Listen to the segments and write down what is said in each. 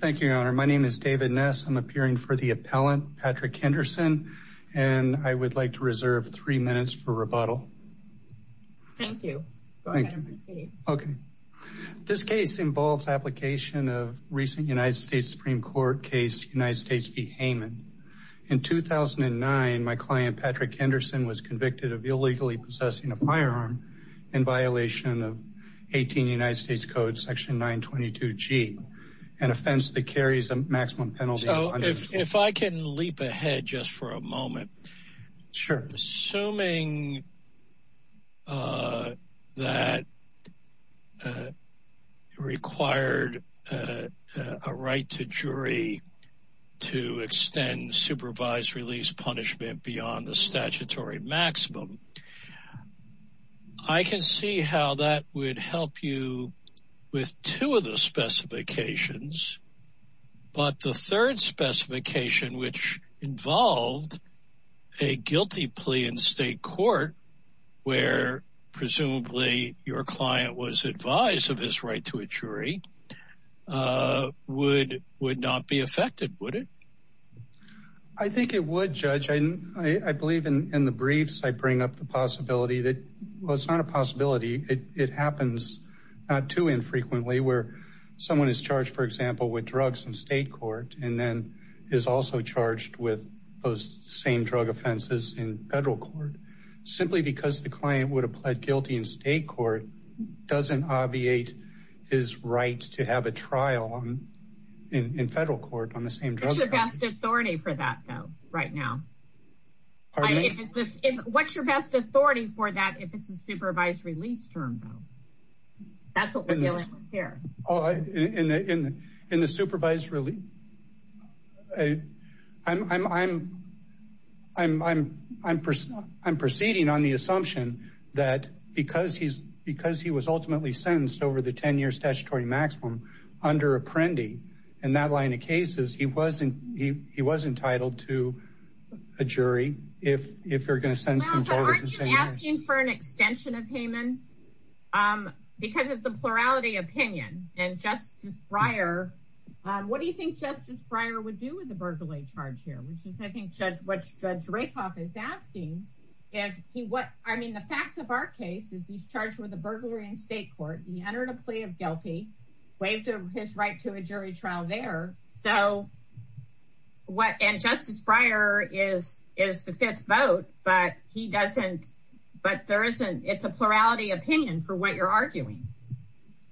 Thank you, your honor. My name is David Ness. I'm appearing for the appellant, Patrick Henderson, and I would like to reserve three minutes for rebuttal. Thank you. Okay, this case involves application of recent United States Supreme Court case United States v. Heyman. In 2009, my client Patrick Henderson was convicted of illegally possessing a firearm in violation of United States Code section 922g, an offense that carries a maximum penalty. So if I can leap ahead just for a moment. Sure. Assuming that required a right to jury to extend supervised release punishment beyond the statutory maximum, I can see how that would help you with two of the specifications. But the third specification, which involved a guilty plea in state court, where presumably your client was advised of his right to a jury, would not be affected, would it? I think it would, judge. I believe in the possibility that, well, it's not a possibility. It happens not too infrequently where someone is charged, for example, with drugs in state court and then is also charged with those same drug offenses in federal court. Simply because the client would have pled guilty in state court doesn't obviate his rights to have a trial in federal court on the same drug. What's your best authority for that, though, right now? What's your best authority for that if it's a supervised release term, though? That's what we're dealing with here. In the supervised release? I'm proceeding on the assumption that because he was ultimately sentenced over the 10-year statutory maximum under Apprendi in that line of cases, he was entitled to a jury if you're going to send someone over the 10 years. Well, but aren't you asking for an extension of Haman? Because it's a plurality opinion. And Justice Breyer, what do you think Justice Breyer would do with a burglary charge here, which is, I think, what Judge Rakoff is asking. I mean, the facts of our case is he's charged with a burglary in state court. He entered a plea of guilty, waived his right to a jury trial there. So what, and Justice Breyer is the fifth vote, but he doesn't, but there isn't, it's a plurality opinion for what you're arguing.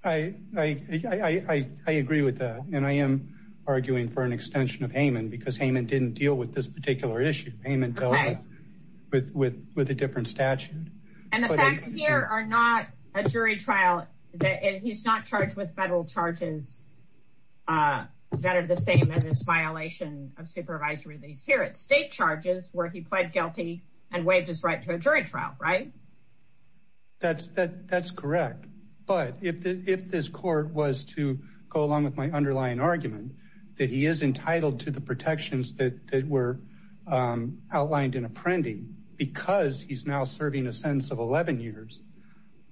I agree with that. And I am arguing for an extension of Haman because Haman didn't deal with this particular issue. Haman dealt with a different statute. And the facts here are not a jury trial. He's not charged with federal charges that are the same as his violation of supervisory release here. It's state charges where he pled guilty and waived his right to a jury trial, right? That's correct. But if this court was to go along with my underlying argument that he is entitled to the protections that were outlined in Apprendi because he's now serving a sentence of 11 years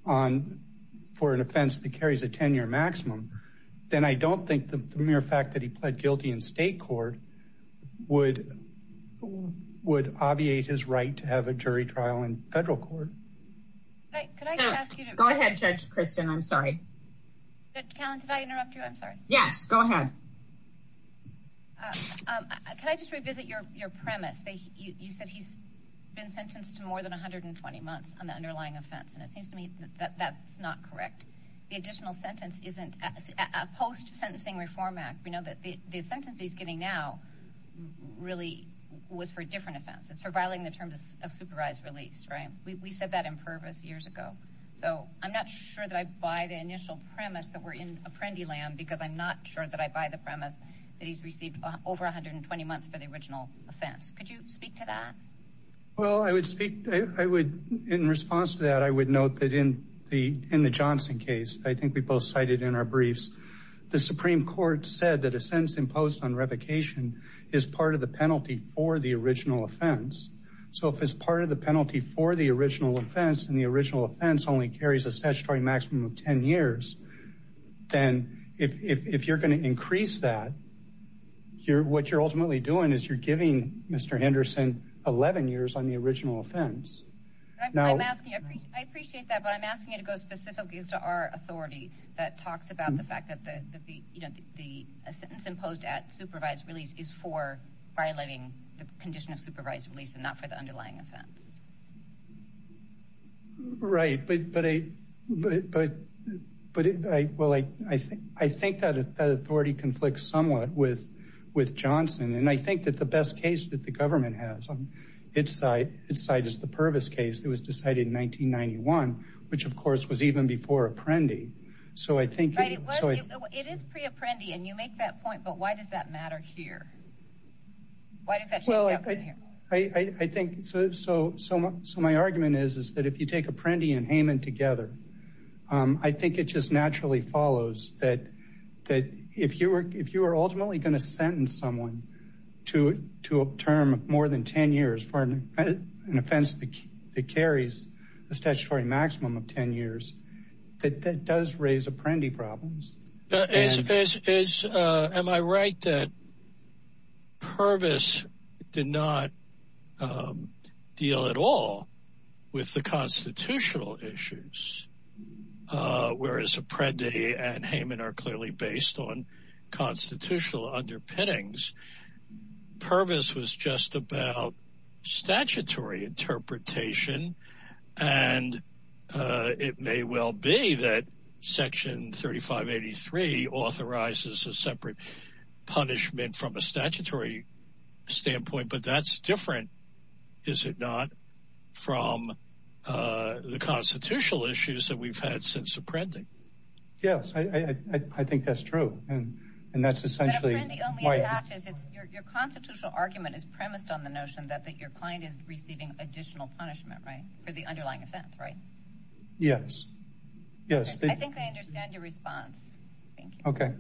on, for an offense that carries a 10-year maximum, then I don't think the mere fact that he pled guilty in state court would obviate his right to have a jury trial in federal court. Go ahead, Judge Kristen. I'm sorry. Judge Callen, did I interrupt you? I'm sorry. Yes, go ahead. Can I just revisit your premise? You said he's been sentenced to more than 120 months on the underlying offense. And it seems to me that that's not correct. The additional sentence isn't a post-sentencing reform act. We know that the sentence he's getting now really was for a different offense. It's for violating the terms of supervised release, right? We said that in purpose years ago. So I'm not sure that I buy the initial premise that we're in Apprendi land because I'm not sure that I buy the premise that he's received over 120 months for the original offense. Could you speak to that? Well, I would speak, I would, in response to that, I would note that in the Johnson case, I think we both cited in our briefs, the Supreme Court said that a sentence imposed on revocation is part of the penalty for the original offense. So if it's part of the penalty for the original offense and the original offense only carries a statutory maximum of 10 years, then if you're going to increase that, what you're ultimately doing is you're giving Mr. Henderson 11 years on the original offense. I appreciate that, but I'm asking you to go specifically to our authority that talks about the fact that the sentence imposed at supervised release is for violating the condition of supervised release and not for the underlying offense. Right, but I think that authority conflicts somewhat with Johnson, and I think that the best case that the government has on its side is the Purvis case that was decided in 1991, which of course was even before Apprendi. It is pre-Apprendi, and you make that point, but why does that matter here? My argument is that if you take Apprendi and Hayman together, I think it just naturally follows that if you are ultimately going to sentence someone to a term of more than 10 years for an offense that carries a statutory maximum of 10 years, that does raise Apprendi problems. Am I right that Purvis did not deal at all with the constitutional issues, whereas Apprendi and Hayman are clearly based on constitutional underpinnings? Purvis was just about statutory interpretation, and it may well be that Section 3583 authorizes a separate punishment from a statutory standpoint, but that's different, is it not, from the constitutional issues that we've had since Apprendi. Yes, I think that's true. Your constitutional argument is premised on the notion that your client is receiving additional punishment for the underlying offense, right? Yes, yes. I think I understand your response. Thank you. Okay,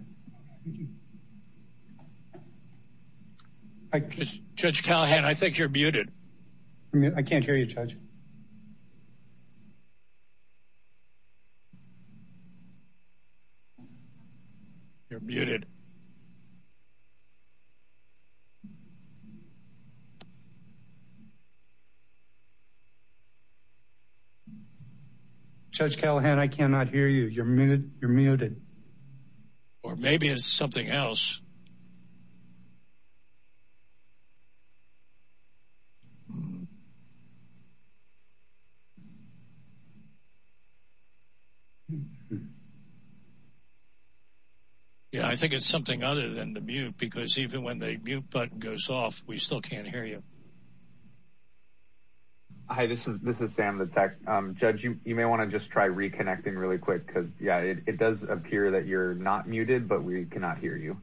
thank you. Judge Callahan, I think you're muted. I can't hear you, Judge. You're muted. Judge Callahan, I cannot hear you. You're muted. Or maybe it's something else. Yeah, I think it's something other than the mute, because even when the mute button goes off, we still can't hear you. Hi, this is Sam, the tech. Judge, you may want to just try reconnecting really quick, because, yeah, it does appear that you're not muted, but we cannot hear you.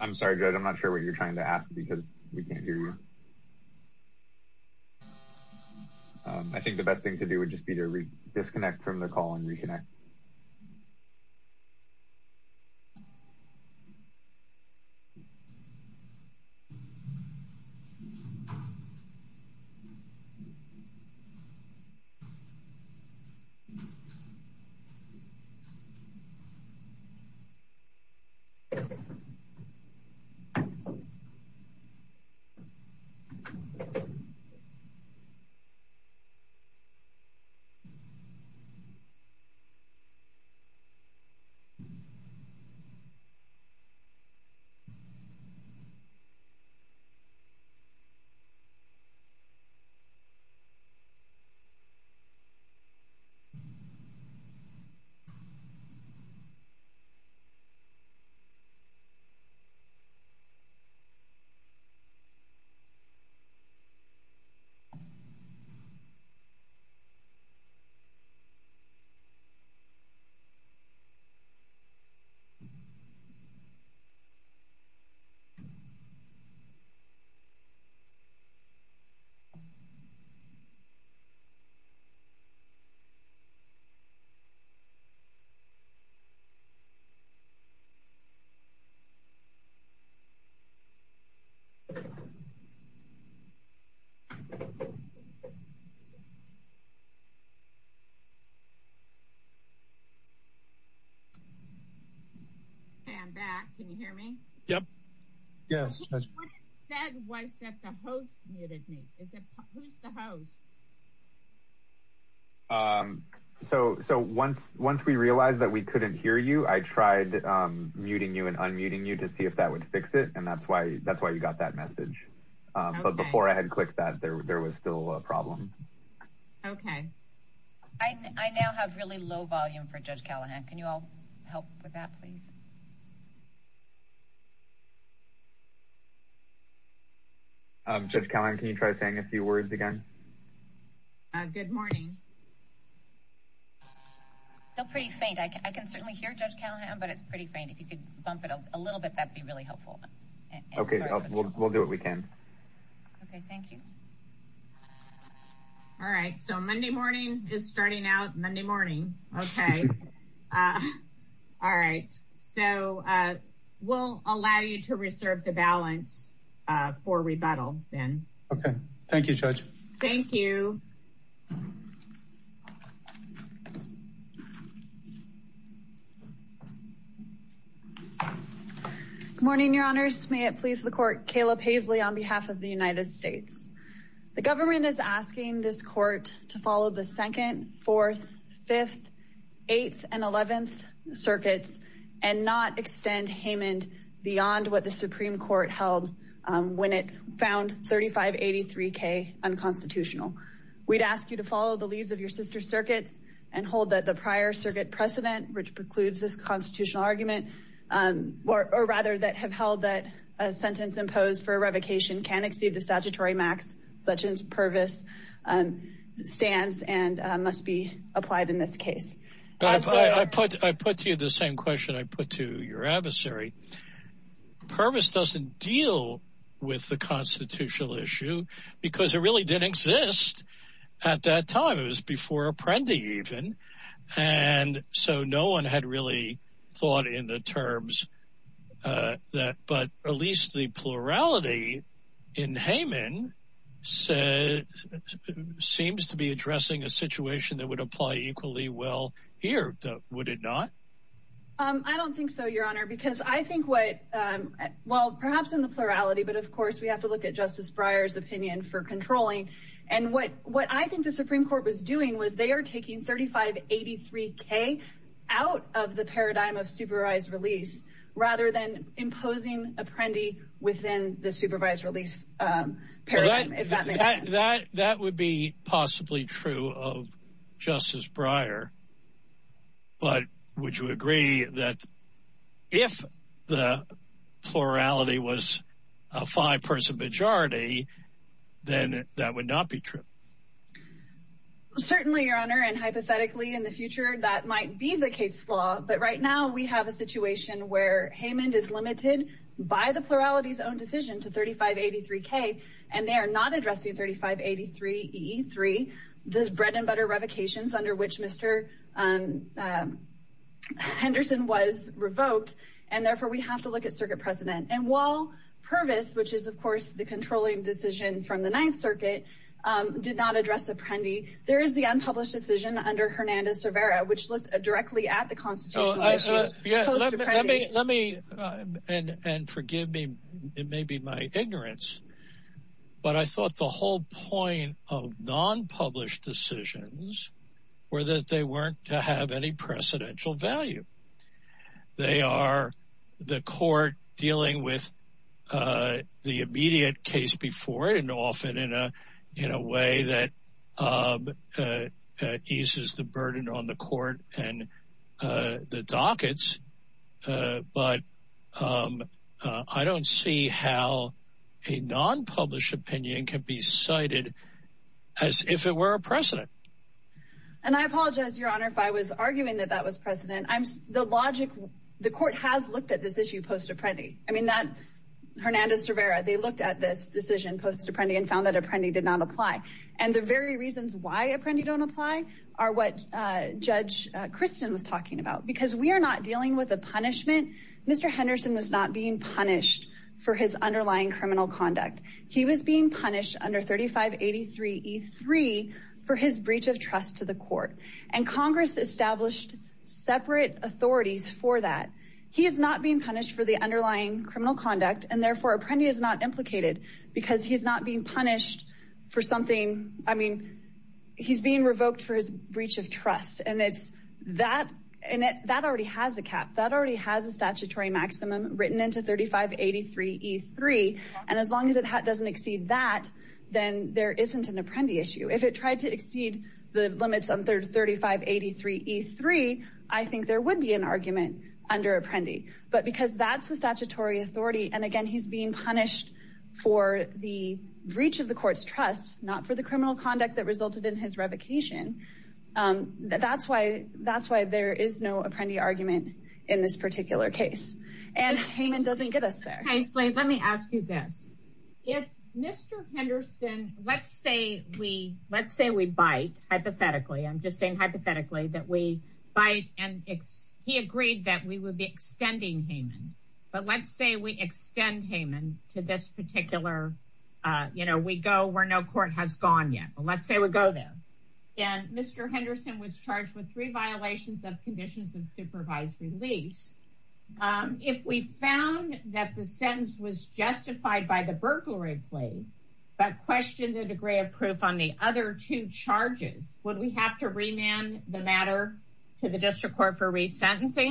I'm sorry, Judge, I'm not sure what you're trying to ask, because we can't hear you. I think the best thing to do would just be to disconnect from the call and reconnect. Okay, I'm back. Can you hear me? Yep. Yes. What it said was that the host muted me. Who's the host? So once we realized that we couldn't hear you, I tried muting you and unmuting you to see if that would fix it, and that's why you got that message. But before I had clicked that, there was still a problem. Okay. I now have really low volume for Judge Callahan. Can you all help with that, please? Judge Callahan, can you try saying a few words again? Good morning. Still pretty faint. I can certainly hear Judge Callahan, but it's pretty faint. If you could bump it up a little bit, that'd be really helpful. Okay, we'll do what we can. Okay, thank you. All right. So Monday morning is starting out Monday morning. Okay. All right. So we'll allow you to reserve the balance for rebuttal then. Okay. Thank you, Judge. Thank you. Good morning, Your Honors. May it please the Court. Caleb Haisley on behalf of the United States. The government is asking this Court to follow the 2nd, 4th, 5th, 8th, and 11th circuits and not extend Haymond beyond what the Supreme Court held when it found 3583K unconstitutional. We'd ask you to follow the leaves of your sister circuits and hold that the prior circuit precedent, which precludes this constitutional argument, or rather that have held that a sentence imposed for Pervis stands and must be applied in this case. I put to you the same question I put to your adversary. Pervis doesn't deal with the constitutional issue because it really didn't exist at that time. It was before Apprendi even. And so no one had really thought in the terms of that, but at least the plurality in Haymond seems to be addressing a situation that would apply equally well here. Would it not? I don't think so, Your Honor, because I think what, well, perhaps in the plurality, but of course we have to look at Justice Breyer's opinion for controlling. And what I think the Supreme Court was doing was they are taking 3583K out of the paradigm of supervised release rather than imposing Apprendi within the supervised release paradigm, if that makes sense. That would be possibly true of Justice Breyer. But would you agree that if the plurality was a five-person majority, then that would not be true? Well, certainly, Your Honor, and hypothetically in the future that might be the case law. But right now we have a situation where Haymond is limited by the plurality's own decision to 3583K and they are not addressing 3583E3, those bread and butter revocations under which Mr. Henderson was revoked. And therefore we have to look at Circuit President. And while not address Apprendi, there is the unpublished decision under Hernandez-Cervera, which looked directly at the constitutional issue post-Apprendi. Let me, and forgive me, it may be my ignorance, but I thought the whole point of non-published decisions were that they weren't to have any precedential value. They are the court dealing with the immediate case before and often in a way that eases the burden on the court and the dockets. But I don't see how a non-published opinion can be cited as if it were a precedent. And I apologize, Your Honor, if I was arguing that that was precedent. The logic, the court has looked at this issue post-Apprendi. I mean, Hernandez-Cervera, they looked at this decision post-Apprendi and found that Apprendi did not apply. And the very reasons why Apprendi don't apply are what Judge Kristen was talking about. Because we are not dealing with a punishment. Mr. Henderson was not being punished for his underlying criminal conduct. He was being punished under 3583E3 for his breach of trust to the court. And Congress established separate authorities for that. He is not being punished for the underlying criminal conduct and therefore Apprendi is not implicated because he's not being punished for something. I mean, he's being revoked for his breach of trust. And that already has a cap. That already has a statutory maximum written into 3583E3. And as long as it doesn't exceed that, then there isn't an Apprendi issue. If it tried to exceed the limits under 3583E3, I think there would be an argument under Apprendi. But because that's the statutory authority and he's being punished for the breach of the court's trust, not for the criminal conduct that resulted in his revocation, that's why there is no Apprendi argument in this particular case. And Heyman doesn't get us there. Let me ask you this. If Mr. Henderson, let's say we bite, hypothetically, I'm just saying hypothetically, that we bite and he agreed that we would be Heyman to this particular, you know, we go where no court has gone yet. Well, let's say we go there. And Mr. Henderson was charged with three violations of conditions of supervised release. If we found that the sentence was justified by the burglary plea, but questioned the degree of proof on the other two charges, would we have to remand the matter to the district court for that?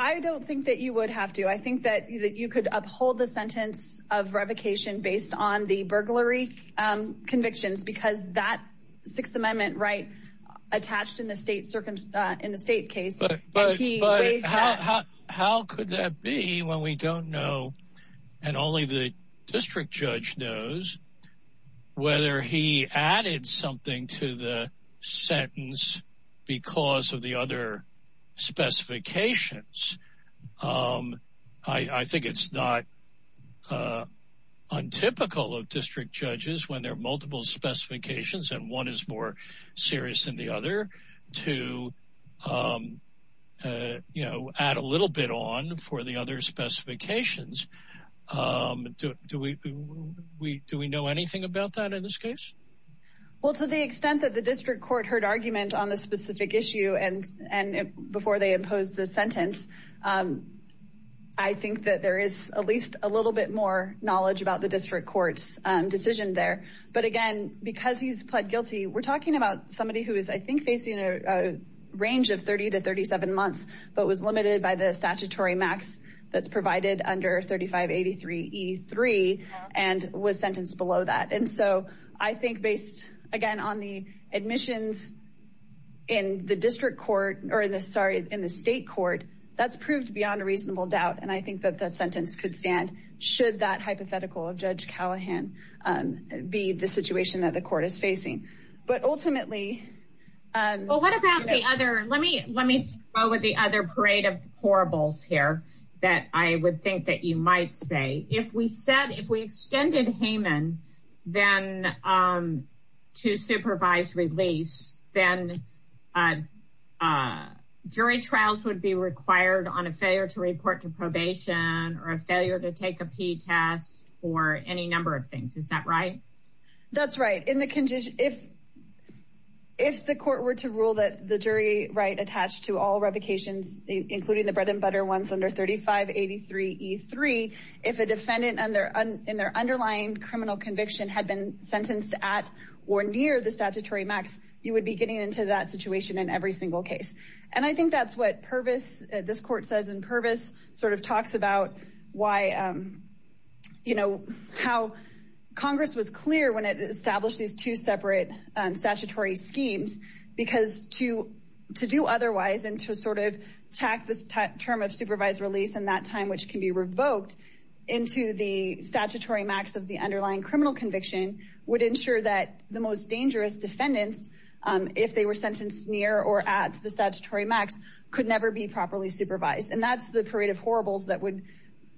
I think that you could uphold the sentence of revocation based on the burglary convictions because that Sixth Amendment right attached in the state case. But how could that be when we don't know and only the district judge knows whether he added something to the sentence because of the specifications? I think it's not untypical of district judges when there are multiple specifications and one is more serious than the other to add a little bit on for the other specifications. Do we know anything about that in this case? Well, to the extent that the district court heard argument on the specific issue and before they imposed the sentence, I think that there is at least a little bit more knowledge about the district court's decision there. But again, because he's pled guilty, we're talking about somebody who is, I think, facing a range of 30 to 37 months, but was limited by the statutory max that's provided under 3583 E3 and was sentenced below that. And so I think based, again, on the admissions in the state court, that's proved beyond a reasonable doubt. And I think that the sentence could stand should that hypothetical of Judge Callahan be the situation that the court is facing. But ultimately... Well, what about the other? Let me throw with the other parade of horribles here that I would think that you might say. If we said, if we extended Haman then to supervise release, then jury trials would be required on a failure to report to probation or a failure to take a P test or any number of things. Is that right? That's right. If the court were to rule that the jury right attached to all revocations, including the bread and butter ones under 3583 E3, if a defendant in their underlying criminal conviction had been sentenced at or near the statutory max, you would be getting into that situation in every single case. And I think that's what Purvis, this court says in Purvis, sort of talks about how Congress was clear when it established these two separate statutory schemes, because to do otherwise and to sort of tack this term of supervised release in that time, which can be revoked into the statutory max of the underlying criminal conviction, would ensure that the most dangerous defendants, if they were sentenced near or at the statutory max, could never be properly supervised. And that's the parade of horribles that would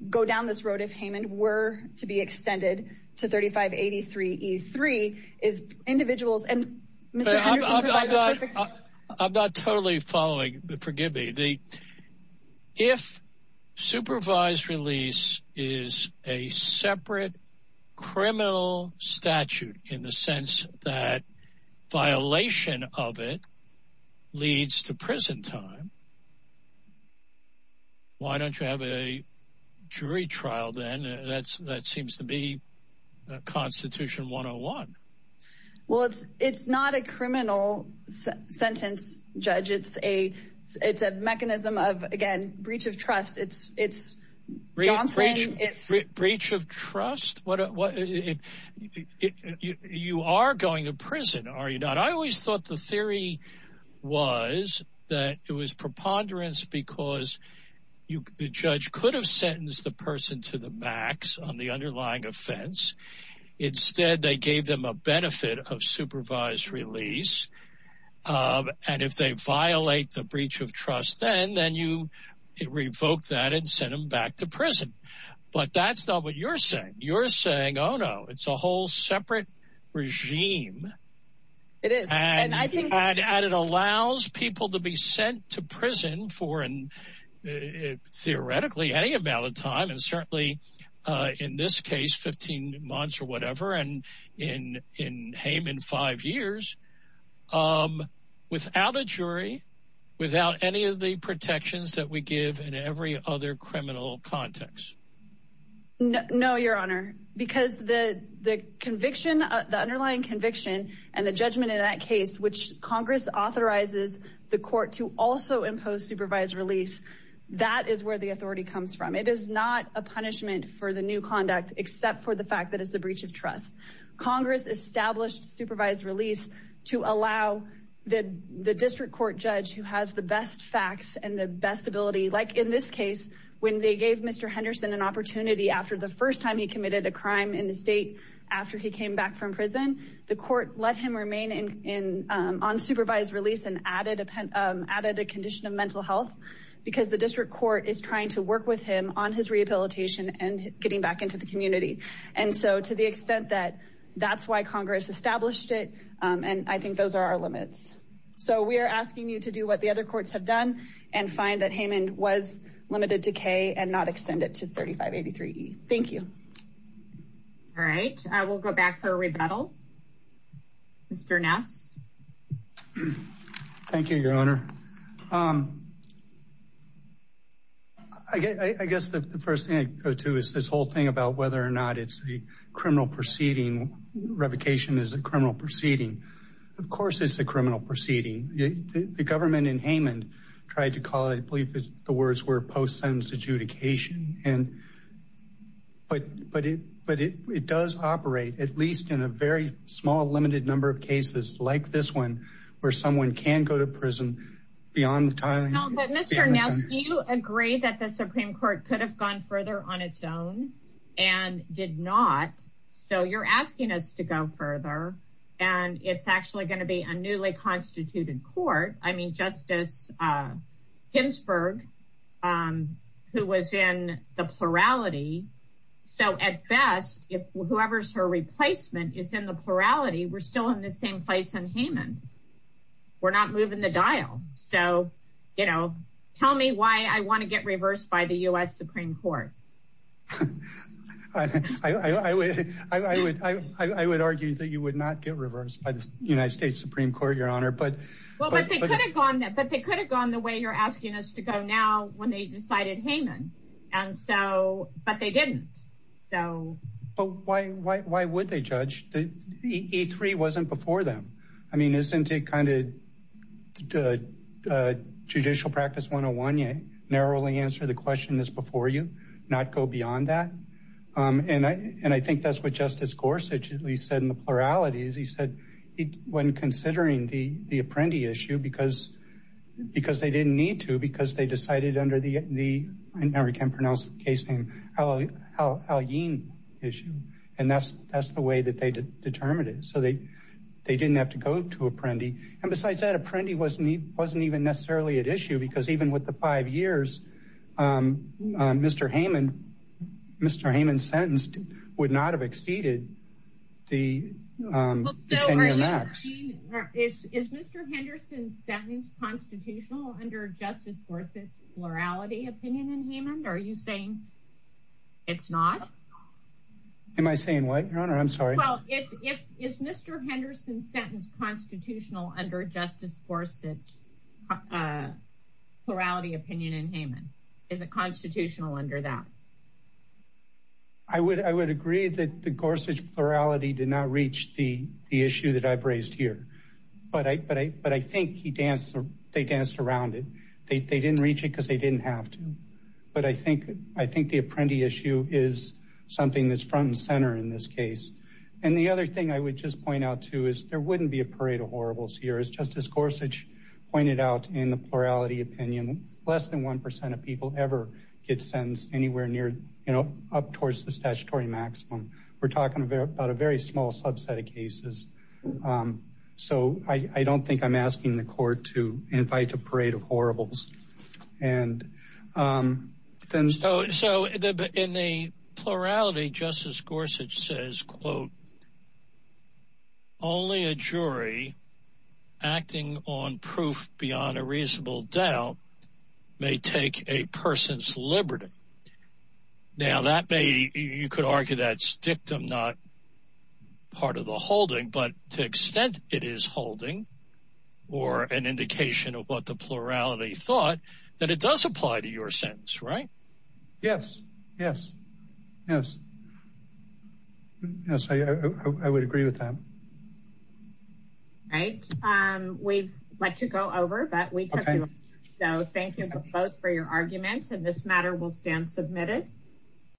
go down this road if Haman were to be extended to 3583 E3 is individuals. And I'm not totally following. Forgive me. If supervised release is a separate criminal statute in the sense that violation of it leads to prison time, why don't you have a jury trial then? That seems to be Constitution 101. Well, it's not a criminal sentence, Judge. It's a mechanism of, again, breach of trust. It's Johnson. Breach of trust. You are going to prison, are you not? I always thought the theory was that it was preponderance because the judge could have sentenced the person to the max on the underlying offense. Instead, they gave them a benefit of supervised release. And if they violate the breach of trust, then then you revoke that and send them back to prison. But that's not what you're saying. You're saying, oh, no, it's a whole separate regime. And I think it allows people to be sent to prison for theoretically any amount of time. And certainly in this case, 15 months and in Hame in five years, without a jury, without any of the protections that we give in every other criminal context. No, Your Honor, because the conviction, the underlying conviction and the judgment in that case, which Congress authorizes the court to also impose supervised release, that is where the authority comes from. It is not a punishment for the new conduct, except for the fact that it's a breach of trust. Congress established supervised release to allow the district court judge who has the best facts and the best ability, like in this case, when they gave Mr. Henderson an opportunity after the first time he committed a crime in the state, after he came back from prison, the court let him remain in on supervised release and added a condition of mental health because the district court is trying to work with him on his And so to the extent that that's why Congress established it, and I think those are our limits. So we are asking you to do what the other courts have done and find that Haman was limited to K and not extend it to 3583. Thank you. All right, I will go back to the rebuttal. Mr. Ness. Thank you, Your Honor. I guess the first thing I'd go to is this whole thing about whether or not it's a criminal proceeding, revocation is a criminal proceeding. Of course, it's a criminal proceeding. The government in Haman tried to call it, I believe, the words were post-sentence adjudication. But it does operate, at least in a very small, limited number of cases like this one, where someone can go to prison beyond the time. No, but Mr. Ness, do you agree that the Supreme Court could have gone further on its own and did not? So you're asking us to go further, and it's actually going to be a newly constituted court. I mean, Justice Ginsburg, who was in the plurality. So at best, whoever's her replacement is in the plurality. We're still in the same place in Haman. We're not moving the dial. So, you know, tell me why I want to get reversed by the U.S. Supreme Court. I would argue that you would not get reversed by the United States Supreme Court, Your Honor. But they could have gone the way you're asking us to go now when they decided Haman. And so, but they didn't. But why would they judge? The E3 wasn't before them. I mean, isn't it kind of judicial practice 101, you narrowly answer the question that's before you, not go beyond that? And I think that's what Justice Gorsuch at least said in the pluralities. He said when considering the Apprendi issue, because they didn't need to, because they decided under the, I can't pronounce the case name, Al-Yin issue. And that's the way that they determined it. So they didn't have to go to Apprendi. And besides that, Apprendi wasn't even necessarily at issue because even with the five years, Mr. Haman, Mr. Haman's sentence would not have exceeded the 10-year max. Is Mr. Henderson's sentence constitutional under Justice Gorsuch's plurality opinion in Haman? Are you saying it's not? Am I saying what, Your Honor? I'm sorry. Well, is Mr. Henderson's sentence constitutional under Justice Gorsuch's plurality opinion in Haman? Is it constitutional under that? I would agree that the Gorsuch plurality did not reach the issue that I've raised here. But I think he danced, they danced around it. They didn't reach it because they didn't have to. But I think the Apprendi issue is something that's front and center in this case. And the other thing I would just point out too is there wouldn't be a parade of horribles here. As Justice Gorsuch pointed out in the plurality opinion, less than 1% of people ever get sentenced anywhere near, you know, up towards the statutory maximum. We're talking about a very small subset of cases. So I don't think I'm asking the court to invite a parade of horribles. And so in the plurality, Justice Gorsuch says, quote, only a jury acting on proof beyond a reasonable doubt may take a person's liberty. Now that may, you could argue that's dictum, not part of the holding, but to extent it is holding or an indication of what the plurality thought that it does apply to your sentence, right? Yes, yes, yes. Yes, I would agree with that. Right. We'd like to go over, but we can't. So thank you both for your arguments. And this is a motion to adjourn. Thank you.